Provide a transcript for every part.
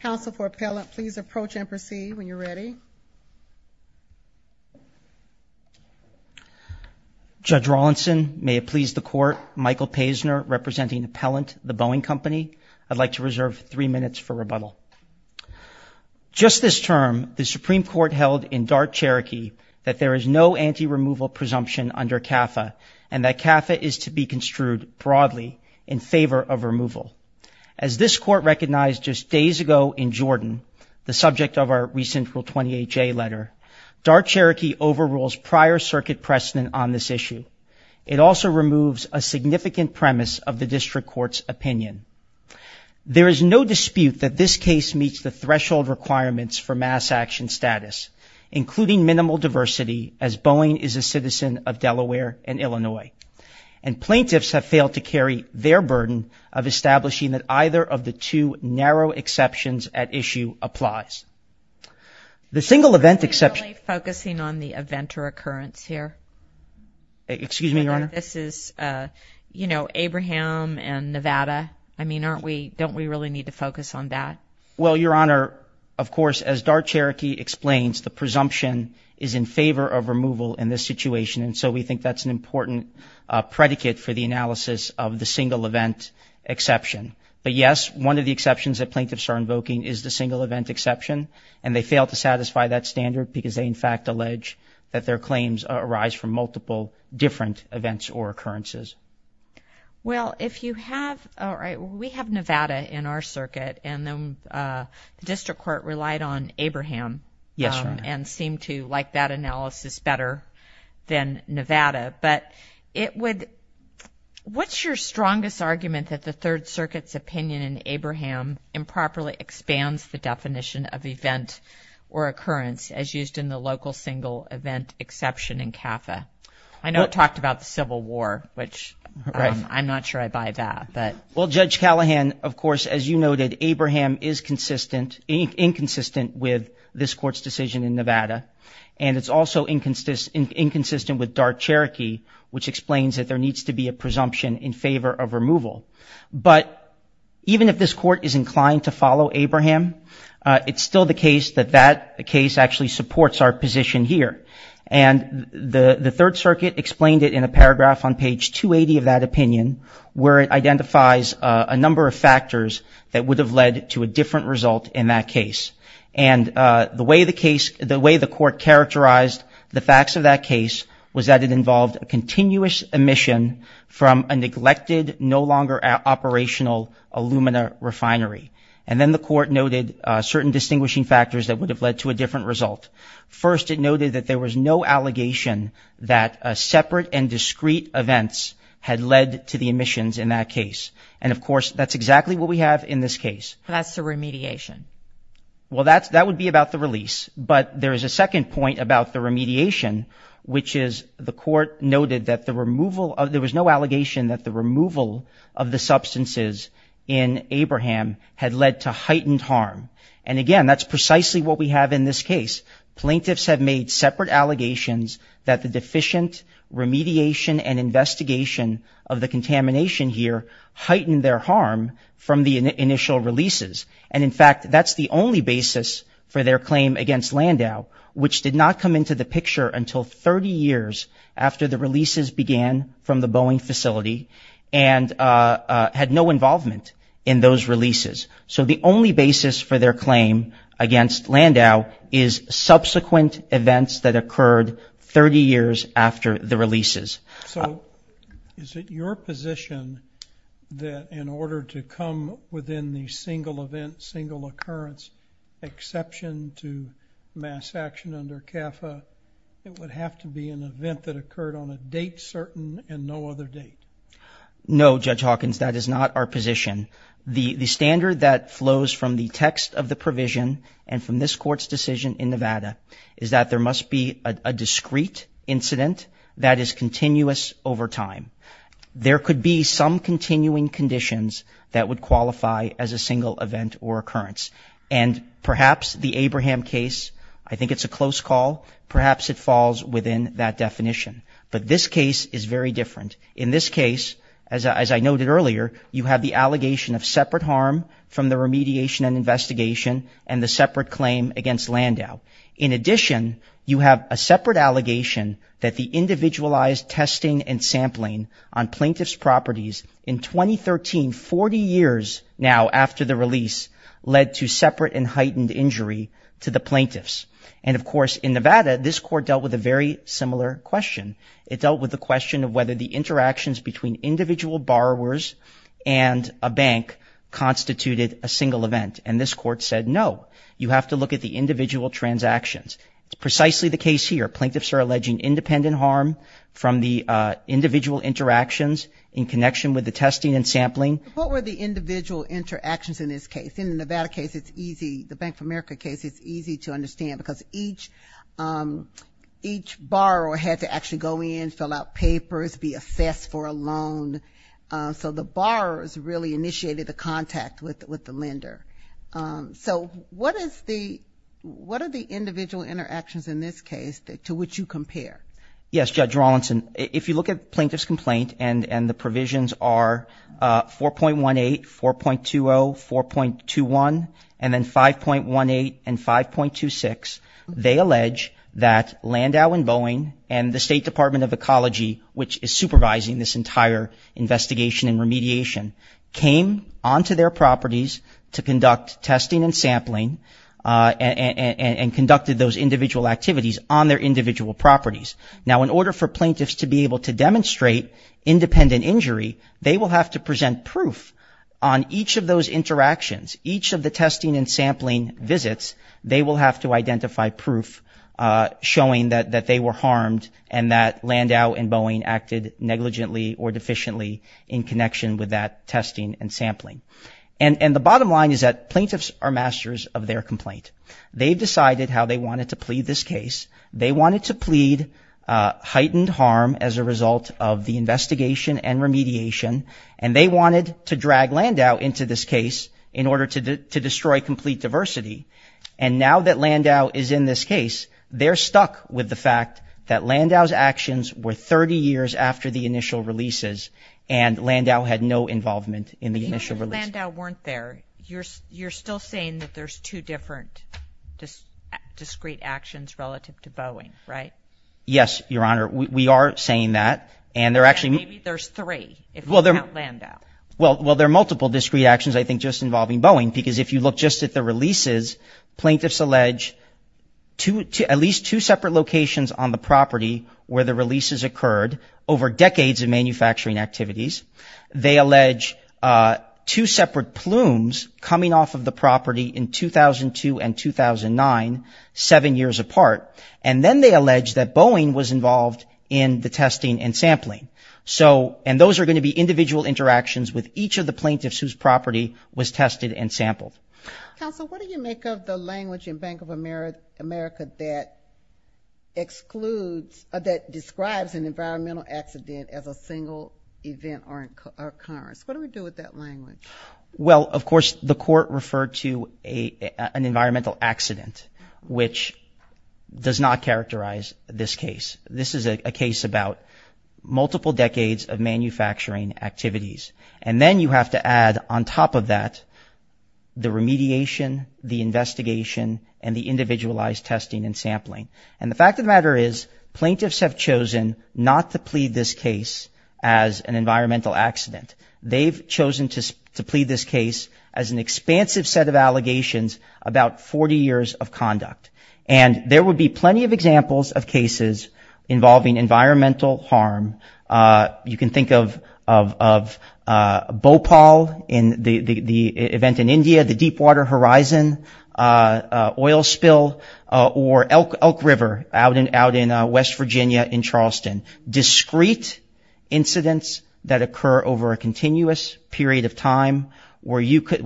Counsel for Appellant, please approach Empress E. when you're ready. Judge Rawlinson, may it please the Court, Michael Paisner representing Appellant, The Boeing Company. I'd like to reserve three minutes for rebuttal. Just this term, the Supreme Court held in Dart, Cherokee, that there is no anti-removal presumption under CAFA, and that CAFA is to be construed broadly in favor of removal. As this Court recognized just days ago in Jordan, the subject of our recent Rule 28 J letter, Dart, Cherokee overrules prior circuit precedent on this issue. It also removes a significant premise of the District Court's opinion. There is no dispute that this case meets the threshold requirements for mass action status, including minimal diversity, as Boeing is a citizen of Delaware and Illinois. And plaintiffs have failed to carry their burden of establishing that either of the two narrow exceptions at issue applies. The single event exception... Are we really focusing on the event or occurrence here? Excuse me, Your Honor? This is, you know, Abraham and Nevada. I mean, aren't we... don't we really need to focus on that? Well, Your Honor, of course, as Dart, Cherokee explains, the presumption is in favor of removal in this situation, and so we think that's an important predicate for the analysis of the single event exception. But yes, one of the exceptions that plaintiffs are invoking is the single event exception, and they fail to satisfy that standard because they, in fact, allege that their claims arise from multiple different events or occurrences. Well, if you have... all right, well, we have Nevada in our circuit, and the district court relied on Abraham and seemed to like that analysis better than Nevada, but it would... what's your strongest argument that the Third Circuit's opinion in Abraham improperly expands the definition of event or occurrence as used in the local single event exception in CAFA? I know it talked about the Civil War, which I'm not sure I buy that, but... Well, Judge Callahan, of course, as you noted, Abraham is consistent... inconsistent with this Court's decision in Nevada, and it's also inconsistent with Dart, Cherokee, which explains that there needs to be a presumption in favor of removal. But even if this Court is inclined to follow Abraham, it's still the case that that case actually supports our position here. And the Third Circuit explained it in a paragraph on page 280 of that opinion, where it identifies a number of factors that would have led to a different result in that case. And the way the case... the way the Court characterized the facts of that case was that it involved a continuous omission from a neglected, no longer operational Illumina refinery. And then the Court noted certain distinguishing factors that would have led to a different result. First, it noted that there was no allegation that separate and discrete events had led to the omissions in that case. And, of course, that's exactly what we have in this case. That's the remediation. Well, that's... that would be about the release. But there is a second point about the remediation, which is the Court noted that the removal of... there was no allegation that the removal of the substances in Abraham had led to heightened harm. And, again, that's precisely what we have in this case. Plaintiffs have made separate allegations that the deficient remediation and investigation of the contamination here heightened their harm from the initial releases. And, in fact, that's the only basis for their claim against Landau, which did not come into the picture until 30 years after the releases began from the Boeing facility and had no involvement in those releases. So the only basis for their claim against Landau is subsequent events that occurred 30 years after the releases. So is it your position that in order to come within the single event, single occurrence exception to mass action under CAFA, it would have to be an event that occurred on a date certain and no other date? No, Judge Hawkins, that is not our position. The standard that flows from the text of the provision and from this Court's decision in Nevada is that there must be a discrete incident that is continuous over time. There could be some continuing conditions that would qualify as a single event or occurrence. And perhaps the Abraham case, I think it's a close call. Perhaps it falls within that definition. But this case is very different. In this case, as I noted earlier, you have the allegation of separate harm from the remediation and investigation and the separate claim against Landau. In addition, you have a separate allegation that the individualized testing and sampling on plaintiff's properties in 2013, 40 years now after the release, led to separate and heightened injury to the plaintiffs. And, of course, in Nevada, this Court dealt with a very similar question. It dealt with the question of whether the interactions between individual borrowers and a bank constituted a single event. And this Court said, no, you have to look at the individual transactions. It's precisely the case here. Plaintiffs are alleging independent harm from the individual interactions in connection with the testing and sampling. What were the individual interactions in this case? In the Nevada case, it's easy, the Bank page. Each borrower had to actually go in, fill out papers, be assessed for a loan. So the borrowers really initiated the contact with the lender. So what are the individual interactions in this case to which you compare? Yes, Judge Rawlinson, if you look at plaintiff's complaint and the provisions are 4.18, 4.20, 4.21, and then 5.18 and 5.26, they allege that Landau and Boeing and the State Department of Ecology, which is supervising this entire investigation and remediation, came onto their properties to conduct testing and sampling and conducted those individual activities on their individual properties. Now, in order for plaintiffs to be able to demonstrate independent injury, they will have to present proof on each of those interactions, each of the testing and sampling visits. They will have to identify proof showing that they were harmed and that Landau and Boeing acted negligently or deficiently in connection with that testing and sampling. And the bottom line is that plaintiffs are masters of their complaint. They've decided how they wanted to plead this case. They wanted to plead heightened harm as a result of the investigation and remediation, and they wanted to drag Landau into this case in order to destroy complete diversity. And now that Landau is in this case, they're stuck with the fact that Landau's actions were 30 years after the initial releases and Landau had no involvement in the initial releases. Even if Landau weren't there, you're still saying that there's two different discrete actions relative to Boeing, right? Yes, Your Honor. We are saying that. And they're actually... Maybe there's three, if you count Landau. Well, there are multiple discrete actions, I think, just involving Boeing, because if you look just at the releases, plaintiffs allege at least two separate locations on the property where the releases occurred over decades of manufacturing activities. They allege two separate plumes coming off of the property in 2002 and 2009, seven years apart. And then they allege that Boeing was involved in the testing and sampling. So, and those are going to be individual interactions with each of the plaintiffs whose property was tested and sampled. Counsel, what do you make of the language in Bank of America that excludes, that describes an environmental accident as a single event or occurrence? What do we do with that language? Well, of course, the court referred to an environmental accident, which does not characterize this case. This is a case about multiple decades of manufacturing activities. And then you have to add on top of that the remediation, the investigation, and the individualized testing and sampling. And the fact of the matter is, plaintiffs have chosen not to plead this case as an environmental accident. They've chosen to plead this case as an expansive set of allegations about 40 years of conduct. And there would be plenty of examples of cases involving environmental harm. You can think of Bhopal, the event in India, the Deepwater incidents that occur over a continuous period of time where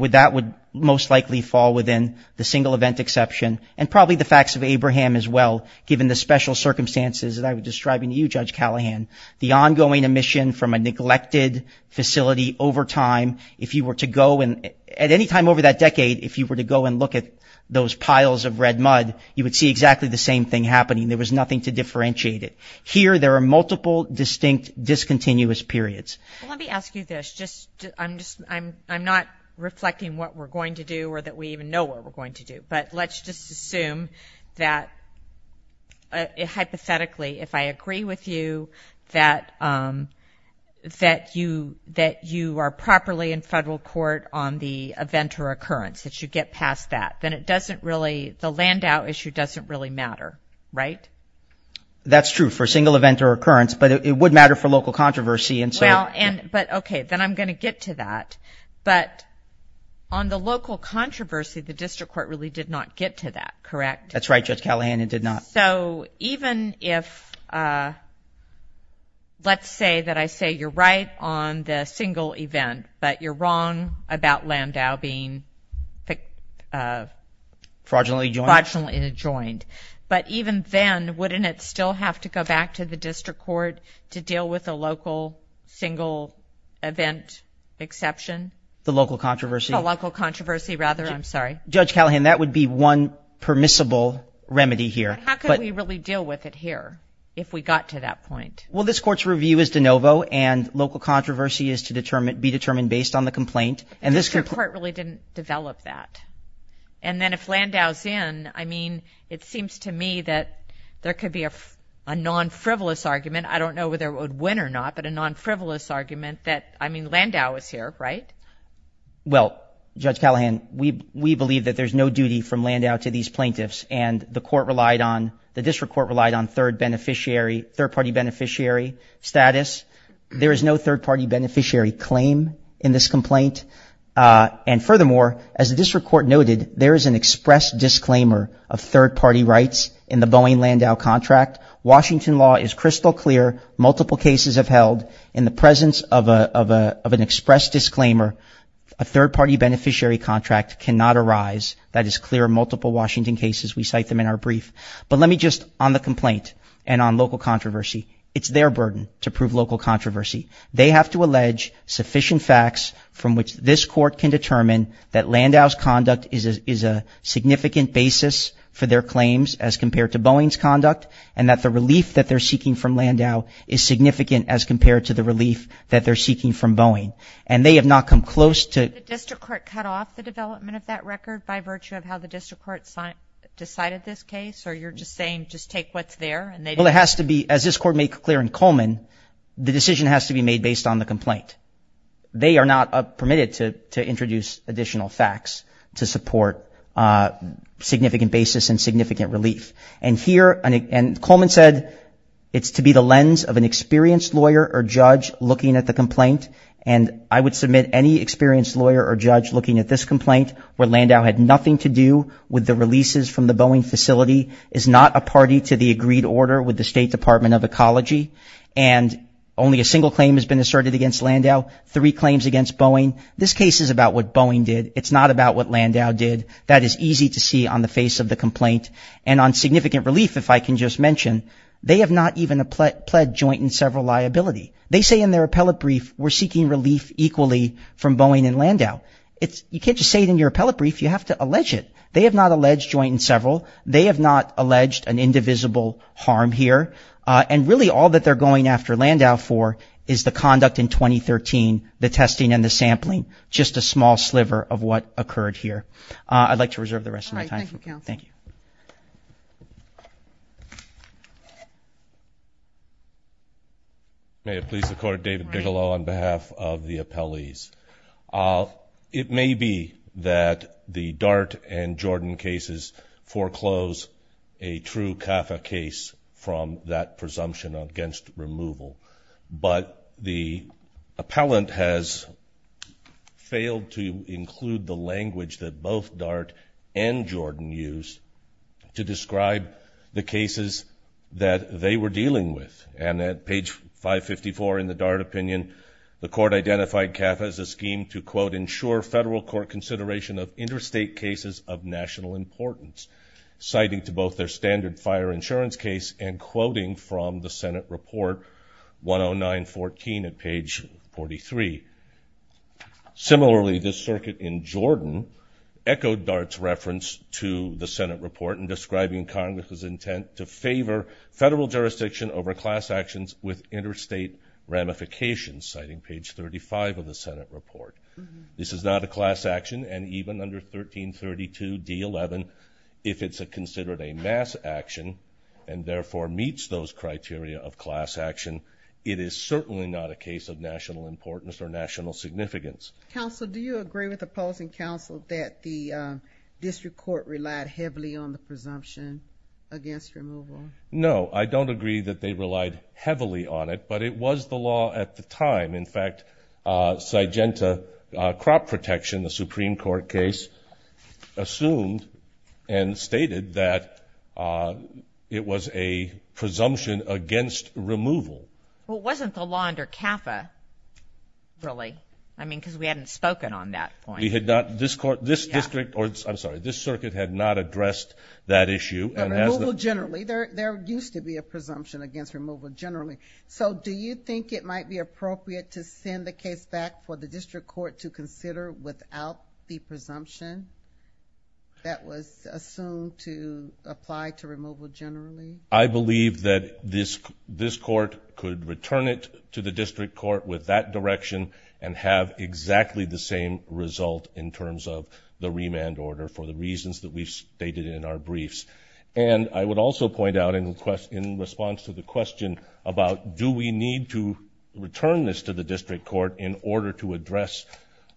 that would most likely fall within the single event exception. And probably the facts of Abraham as well, given the special circumstances that I was describing to you, Judge Callahan, the ongoing emission from a neglected facility over time. If you were to go and, at any time over that decade, if you were to go and look at those piles of red mud, you would see exactly the same thing happening. There was nothing to differentiate it. Here, there are multiple distinct discontinuous periods. Let me ask you this. I'm not reflecting what we're going to do or that we even know what we're going to do. But let's just assume that, hypothetically, if I agree with you that you are properly in federal court on the event or occurrence, that you get past that, then it doesn't really, the Landau issue doesn't really matter, right? That's true for single event or occurrence, but it would matter for local controversy. Well, but okay, then I'm going to get to that. But on the local controversy, the district court really did not get to that, correct? That's right, Judge Callahan, it did not. So even if, let's say that I say you're right on the single event, but you're wrong about fraudulently adjoined, but even then, wouldn't it still have to go back to the district court to deal with a local single event exception? The local controversy? The local controversy, rather. I'm sorry. Judge Callahan, that would be one permissible remedy here. How could we really deal with it here, if we got to that point? Well, this court's review is de novo, and local controversy is to be determined based on the complaint. And the district court really didn't develop that. And then if Landau's in, I mean, it seems to me that there could be a non-frivolous argument. I don't know whether it would win or not, but a non-frivolous argument that, I mean, Landau is here, right? Well, Judge Callahan, we believe that there's no duty from Landau to these plaintiffs, and the district court relied on third-party beneficiary status. There is no third-party beneficiary claim in this complaint. And furthermore, as the district court noted, there is an express disclaimer of third-party rights in the Boeing-Landau contract. Washington law is crystal clear. Multiple cases have held. In the presence of an express disclaimer, a third-party beneficiary contract cannot arise. That is clear in multiple Washington cases. We cite them in our brief. But let me just, on the complaint, and on local controversy, it's their burden to prove local controversy. They have to allege sufficient facts from which this court can determine that Landau's conduct is a significant basis for their claims as compared to Boeing's conduct, and that the relief that they're seeking from Landau is significant as compared to the relief that they're seeking from Boeing. And they have not come close to... Did the district court cut off the development of that record by virtue of how the district court decided this case? Or you're just saying, just take what's there, and they didn't? Well, it has to be, as this court made clear in Coleman, the decision has to be made based on the complaint. They are not permitted to introduce additional facts to support significant basis and significant relief. And here, and Coleman said, it's to be the lens of an experienced lawyer or judge looking at the complaint. And I would submit any experienced lawyer or judge looking at this complaint, where Landau had nothing to do with the releases from the Boeing facility, is not a party to the agreed order with the State Department of Ecology, and only a single claim has been asserted against Landau, three claims against Boeing. This case is about what Boeing did. It's not about what Landau did. That is easy to see on the face of the complaint. And on significant relief, if I can just mention, they have not even pled joint in several liability. They say in their appellate brief, we're seeking relief equally from Boeing and Landau. You can't just say it in your appellate brief. You have to allege it. They have not alleged joint in several. They have not alleged an indivisible harm here. And really, all that they're going after Landau for is the conduct in 2013, the testing and the sampling, just a small sliver of what occurred here. I'd like to reserve the rest of my time. All right. Thank you, counsel. Thank you. May it please the Court, David Bigelow on behalf of the appellees. It may be that the Dart and Jordan cases foreclose a true CAFA case from that presumption against removal. But the appellant has failed to include the language that both Dart and Jordan use to describe the cases that they were dealing with. And at page 554 in the Dart opinion, the Court identified CAFA as a scheme to, quote, ensure federal court consideration of interstate cases of national importance, citing to both their standard fire insurance case and quoting from the Senate report 10914 at page 43. Similarly, the circuit in Jordan echoed Dart's reference to the Senate report in describing Congress's intent to favor federal jurisdiction over class actions with interstate ramifications, citing page 35 of the Senate report. This is not a class action, and even under 1332 D11, if it's considered a mass action and therefore meets those criteria of class action, it is certainly not a case of national importance or national significance. Counsel, do you agree with opposing counsel that the district court relied heavily on the presumption against removal? No, I don't agree that they relied heavily on it, but it was the law at the time. In fact, Sygenta Crop Protection, the Supreme Court case, assumed and stated that it was a presumption against removal. Well, it wasn't the law under CAFA, really. I mean, because we hadn't spoken on that point. We had not. This district, or I'm sorry, this circuit had not addressed that issue. But removal generally, there used to be a presumption against removal generally. So do you think it might be appropriate to send the case back for the district court to consider without the presumption that was assumed to apply to removal generally? I believe that this court could return it to the district court with that direction and have exactly the same result in terms of the remand order for the reasons that we've discussed in the briefs. And I would also point out in response to the question about do we need to return this to the district court in order to address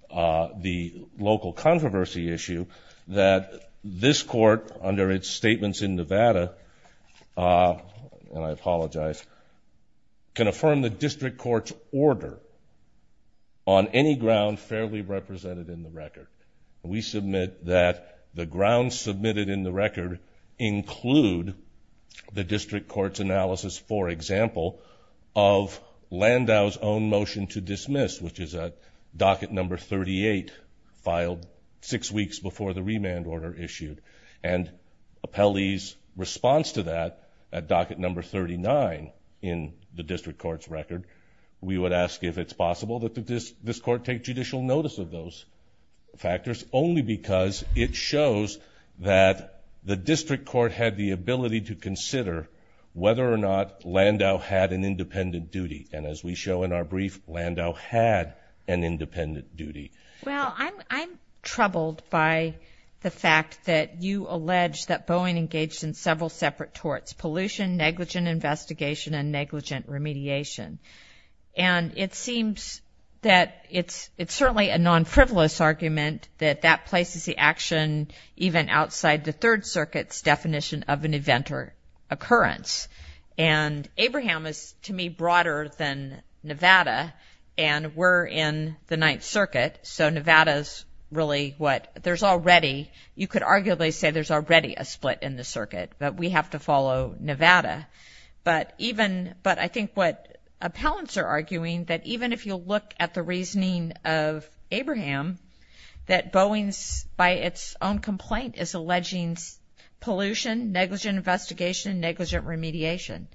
the local controversy issue that this court, under its statements in Nevada, and I apologize, can affirm the district court's order on any ground fairly represented in the record. We submit that the grounds submitted in the record include the district court's analysis, for example, of Landau's own motion to dismiss, which is at docket number 38, filed six weeks before the remand order issued. And Appellee's response to that at docket number 39 in the district court's record, we would ask if it's possible that this court take judicial notice of those factors only because it shows that the district court had the ability to consider whether or not Landau had an independent duty. And as we show in our brief, Landau had an independent duty. Well, I'm troubled by the fact that you allege that Boeing engaged in several separate torts, pollution, negligent investigation, and negligent remediation. And it seems that it's certainly a non-frivolous argument that that places the action even outside the Third Circuit's definition of an event or occurrence. And Abraham is, to me, broader than Nevada, and we're in the Ninth Circuit, so Nevada's really what, there's already, you could arguably say there's already a split in the circuit, but we have to follow Nevada. But even, but I think what appellants are arguing, that even if you look at the reasoning of Abraham, that Boeing's, by its own complaint, is alleging pollution, negligent investigation, negligent remediation.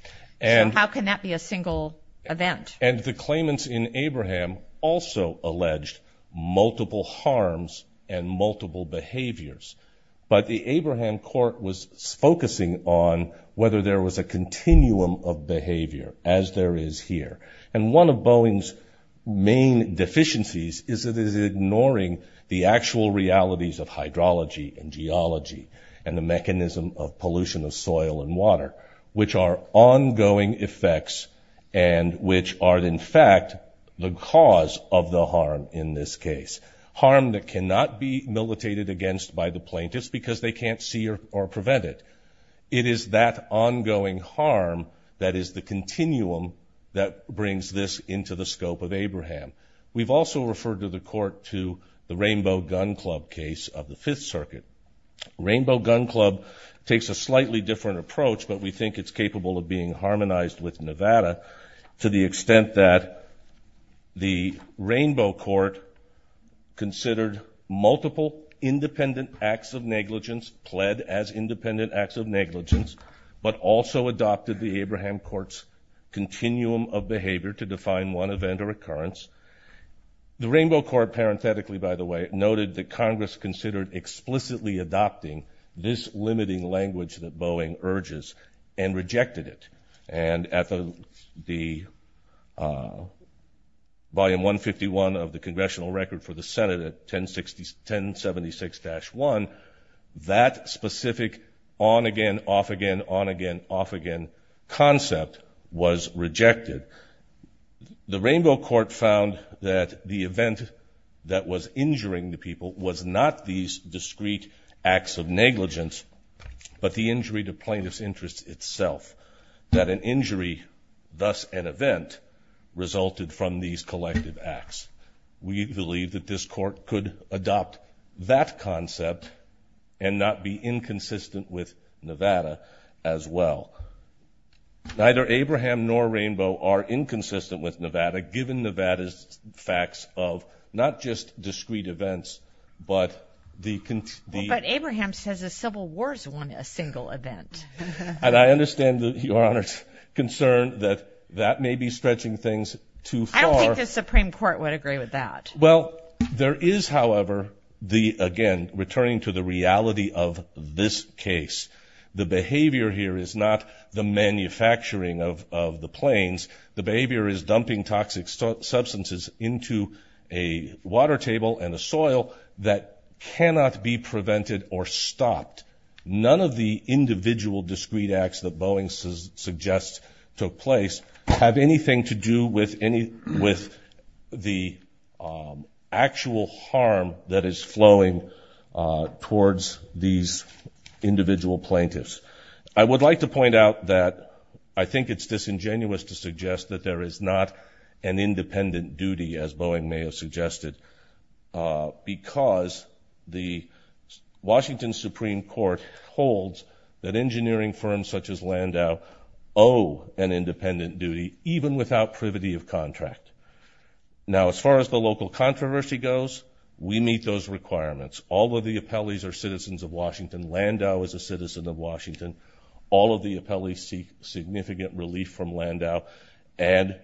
So how can that be a single event? And the claimants in Abraham also alleged multiple harms and multiple behaviors. But the Abraham court was focusing on whether there was a continuum of behavior, as there is here. And one of Boeing's main deficiencies is that it is ignoring the actual realities of hydrology and geology and the mechanism of pollution of soil and water, which are ongoing effects and which are, in fact, the cause of the harm in this case. Harm that they can't see or prevent it. It is that ongoing harm that is the continuum that brings this into the scope of Abraham. We've also referred to the court to the Rainbow Gun Club case of the Fifth Circuit. Rainbow Gun Club takes a slightly different approach, but we think it's capable of being harmonized with Nevada to the extent that the Rainbow Court considered multiple independent acts of negligence, pled as independent acts of negligence, but also adopted the Abraham court's continuum of behavior to define one event or occurrence. The Rainbow Court, parenthetically, by the way, noted that Congress considered explicitly adopting this limiting language that Boeing urges and rejected it. And at the volume 151 of the congressional record for the Senate at 1076-1, that specific on-again, off-again, on-again, off-again concept was rejected. The Rainbow Court found that the event that was injuring the people was not these discrete acts of negligence, but the injury to thus an event resulted from these collective acts. We believe that this court could adopt that concept and not be inconsistent with Nevada as well. Neither Abraham nor Rainbow are inconsistent with Nevada, given Nevada's facts of not just discrete events, but the... But Abraham says civil wars weren't a single event. And I understand that your Honor's concerned that that may be stretching things too far. I don't think the Supreme Court would agree with that. Well, there is, however, the, again, returning to the reality of this case. The behavior here is not the manufacturing of the planes. The behavior is dumping toxic substances into a plane. None of the individual discrete acts that Boeing suggests took place have anything to do with the actual harm that is flowing towards these individual plaintiffs. I would like to point out that I think it's disingenuous to suggest that there is not an independent duty, as Boeing may have suggested, because the Washington Supreme Court holds that engineering firms such as Landau owe an independent duty, even without privity of contract. Now, as far as the local controversy goes, we meet those requirements. All of the appellees are citizens of Washington. Landau is a citizen of Washington. All of the appellees seek significant relief from Landau and...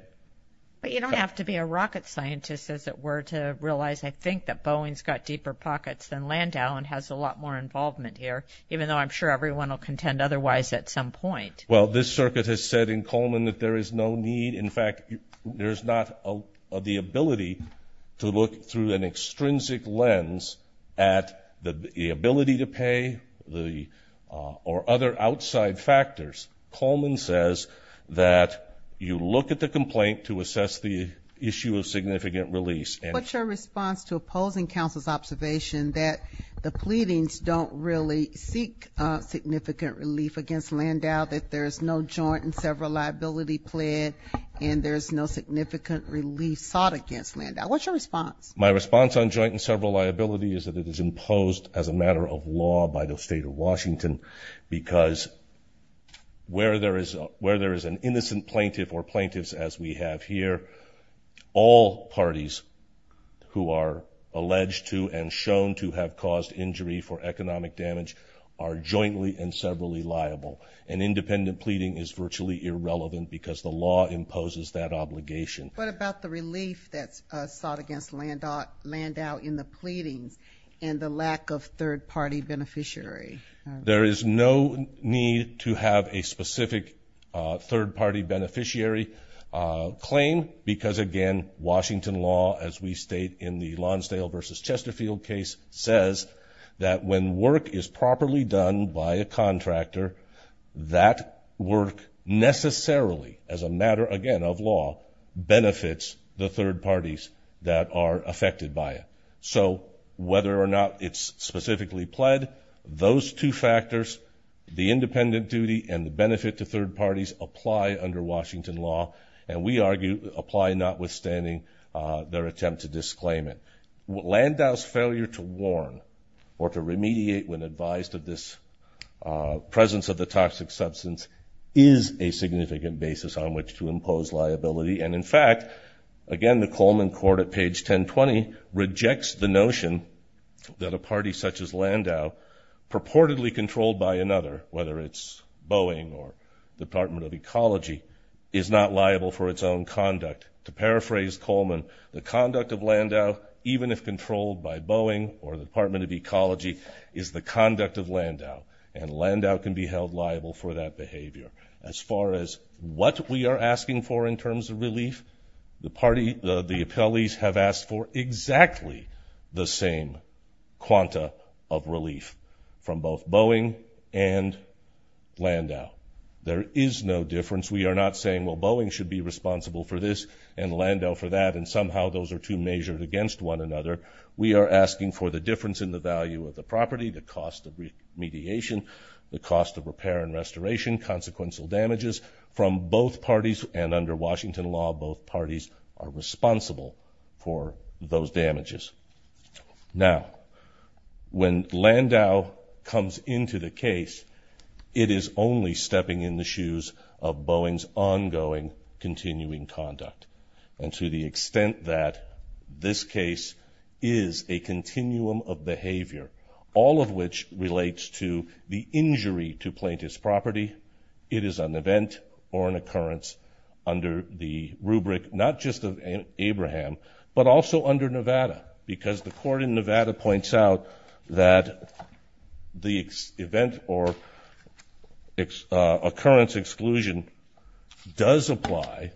But you don't have to be a rocket scientist, as it were, to realize, I think, that Boeing's got deeper pockets than Landau and has a lot more involvement here, even though I'm sure everyone will contend otherwise at some point. Well, this circuit has said in Coleman that there is no need, in fact, there's not the ability to look through an extrinsic lens at the ability to pay, or other outside factors. Coleman says that you look at the complaint to assess the issue of significant release. What's your response to opposing counsel's observation that the pleadings don't really seek significant relief against Landau, that there is no joint and several liability plead, and there's no significant relief sought against Landau? What's your response? My response on joint and where there is an innocent plaintiff or plaintiffs as we have here, all parties who are alleged to and shown to have caused injury for economic damage are jointly and severally liable. An independent pleading is virtually irrelevant because the law imposes that obligation. What about the relief that's sought against Landau in the pleadings and the lack of third-party beneficiary? There is no need to have a specific third-party beneficiary claim because, again, Washington law, as we state in the Lonsdale v. Chesterfield case, says that when work is properly done by a contractor, that work necessarily, as a matter, again, of law, benefits the third parties who plead. Those two factors, the independent duty and the benefit to third parties, apply under Washington law, and we argue apply notwithstanding their attempt to disclaim it. Landau's failure to warn or to remediate when advised of this presence of the toxic substance is a significant basis on which to impose liability, and in fact, again, the Coleman court at page 1020 rejects the notion that a party such as Landau, purportedly controlled by another, whether it's Boeing or the Department of Ecology, is not liable for its own conduct. To paraphrase Coleman, the conduct of Landau, even if controlled by Boeing or the Department of Ecology, is the conduct of Landau, and Landau can be held liable for that behavior. As far as what we are asking for in terms of relief, the party, the appellees have asked for exactly the same quanta of relief from both Boeing and Landau. There is no difference. We are not saying, well, Boeing should be responsible for this and Landau for that, and somehow those are two measured against one another. We are asking for the difference in the value of the property, the cost of remediation, the cost of repair and restoration, consequential damages from both parties, and under Washington law, both parties are responsible for those damages. Now, when Landau comes into the case, it is only stepping in the shoes of Boeing's ongoing, continuing conduct, and to the extent that this is an event or an occurrence under the rubric, not just of Abraham, but also under Nevada, because the court in Nevada points out that the event or occurrence exclusion does apply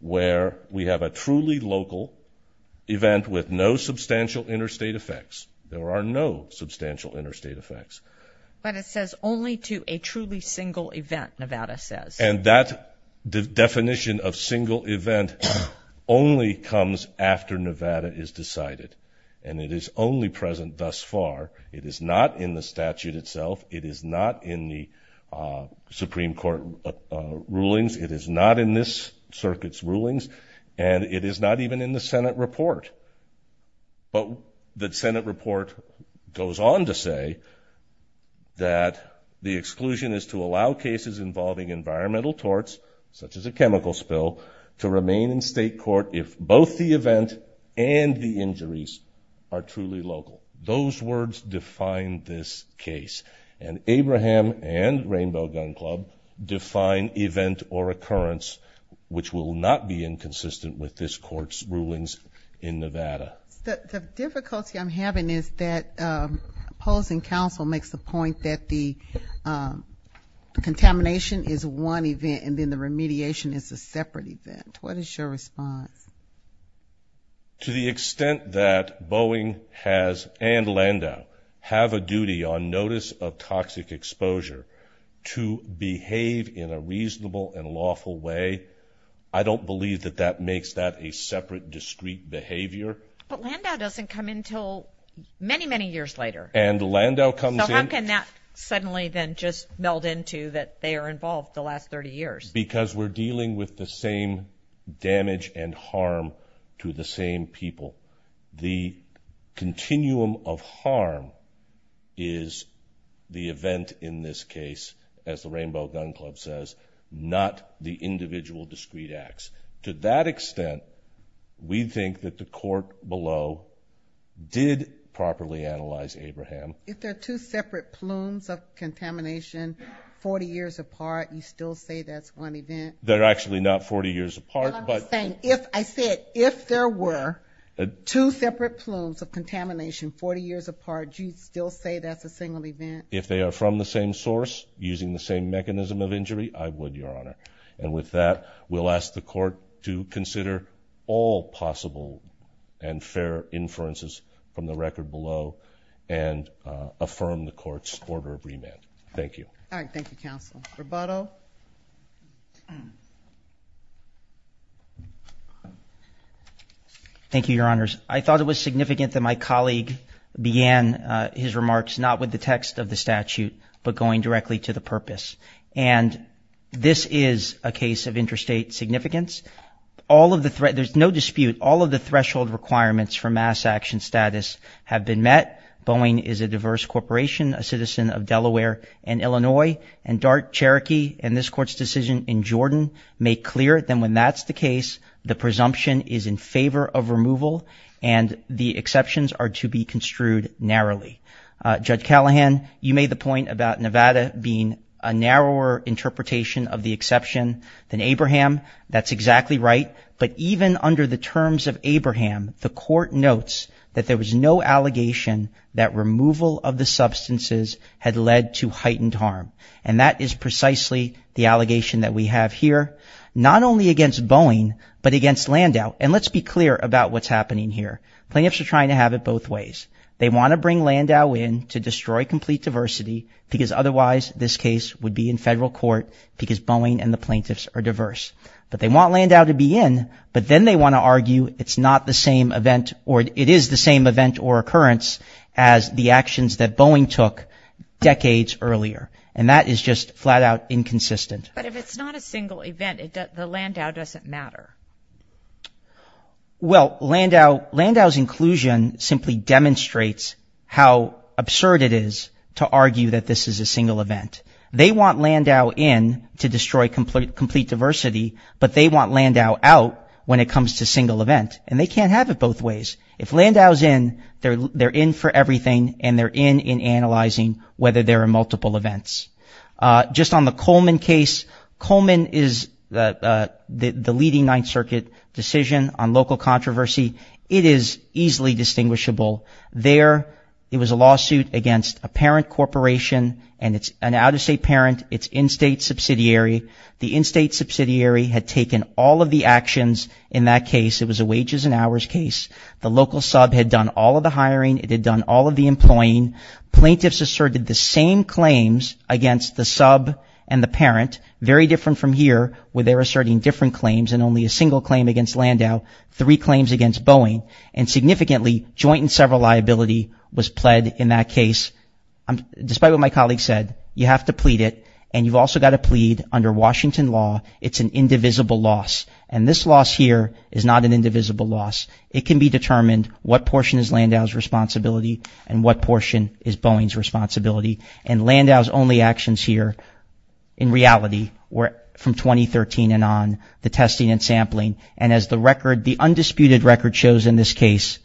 where we have a truly local event with no substantial interstate effects. There are no truly single event, Nevada says. And that definition of single event only comes after Nevada is decided, and it is only present thus far. It is not in the statute itself. It is not in the Supreme Court rulings. It is not in this circuit's rulings, and it is not even in the statute. The intent is to allow cases involving environmental torts, such as a chemical spill, to remain in state court if both the event and the injuries are truly local. Those words define this case, and Abraham and Rainbow Gun Club define event or occurrence, which will not be inconsistent with this court's rulings in Nevada. The difficulty I'm having is that opposing counsel makes the point that the contamination is one event and then the remediation is a separate event. What is your response? To the extent that Boeing has, and Landau, have a duty on notice of toxic exposure to behave in a reasonable and lawful way, I don't believe that that is a separate, discrete behavior. But Landau doesn't come until many, many years later. And Landau comes in... So how can that suddenly then just meld into that they are involved the last 30 years? Because we're dealing with the same damage and harm to the same people. The continuum of harm is the event in this case, as the Rainbow Gun Club says, not the individual discrete acts. To that extent, we think that the court below did properly analyze Abraham. If they're two separate plumes of contamination 40 years apart, you still say that's one event? They're actually not 40 years apart, but... I'm just saying, if I said, if there were two separate plumes of contamination 40 years apart, you'd still say that's a single event? If they are from the same source, using the same mechanism of injury, I would, Your Honor. And with that, we'll ask the court to consider all possible and fair inferences from the record below and affirm the court's order of remand. Thank you. All right. Thank you, counsel. Roboto? Thank you, Your Honors. I thought it was significant that my colleague began his remarks not with the text of the statute, but going directly to the purpose. And this is a case of interstate significance. There's no dispute. All of the threshold requirements for mass action status have been met. Boeing is a diverse corporation, a citizen of Delaware and Illinois. And DART, Cherokee, and this court's decision in Jordan make clear that when that's the case, the presumption is in favor of removal and the exceptions are to be construed narrowly. Judge Callahan, you made the point about Nevada being a narrower interpretation of the exception than Abraham. That's exactly right. But even under the terms of Abraham, the court notes that there was no allegation that removal of the substances had led to heightened harm. And that is precisely the allegation that we have here, not only against Boeing, but against Landau. And let's be clear about what's happening here. Plaintiffs are trying to have it both ways. They want to bring Landau in to destroy complete diversity because otherwise this case would be in federal court because Boeing and the plaintiffs are diverse. But they want Landau to be in, but then they want to argue it's not the same event or it is the same event or occurrence as the actions that Boeing took decades earlier. And that is just flat out inconsistent. But if it's not a single event, the Landau doesn't matter. Well, Landau's inclusion simply demonstrates how absurd it is to argue that this is a single event. They want Landau in to destroy complete diversity, but they want Landau out when it comes to single event. And they can't have it both ways. If Landau's in, they're in for everything and they're in in analyzing whether there are multiple events. Just on the Coleman case, Coleman is the leading Ninth Circuit decision on local controversy. It is easily distinguishable. There, it was a lawsuit against a parent corporation and it's an out-of-state parent. It's in-state subsidiary. The in-state subsidiary had taken all of the actions in that case. It was a wages and hours case. The local sub had done all of the hiring. It had done all of the employing. Plaintiffs asserted the same claims against the sub and the parent, very different from here where they're asserting different claims and only a single claim against Landau, three claims against Boeing, and significantly joint and several liability was pled in that case. Despite what my colleague said, you have to plead it and you've also got to plead under Washington law. It's an indivisible loss and this loss here is not an indivisible loss. It can be determined what portion is Landau's responsibility and what portion is Boeing's responsibility. And Landau's only actions here in reality were from 2013 and on, the testing and sampling. And as the record, the undisputed record shows in this case,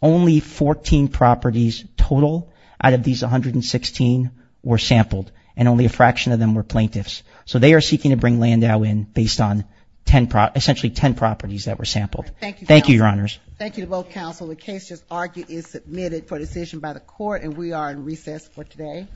only 14 properties total out of these 116 were sampled and only a fraction of them were plaintiffs. So they are seeking to bring Landau in based on 10, essentially 10 properties that were sampled. Thank you, your honors. Thank you to both counsel. The case just argued is submitted for decision by the court and we are in recess for today.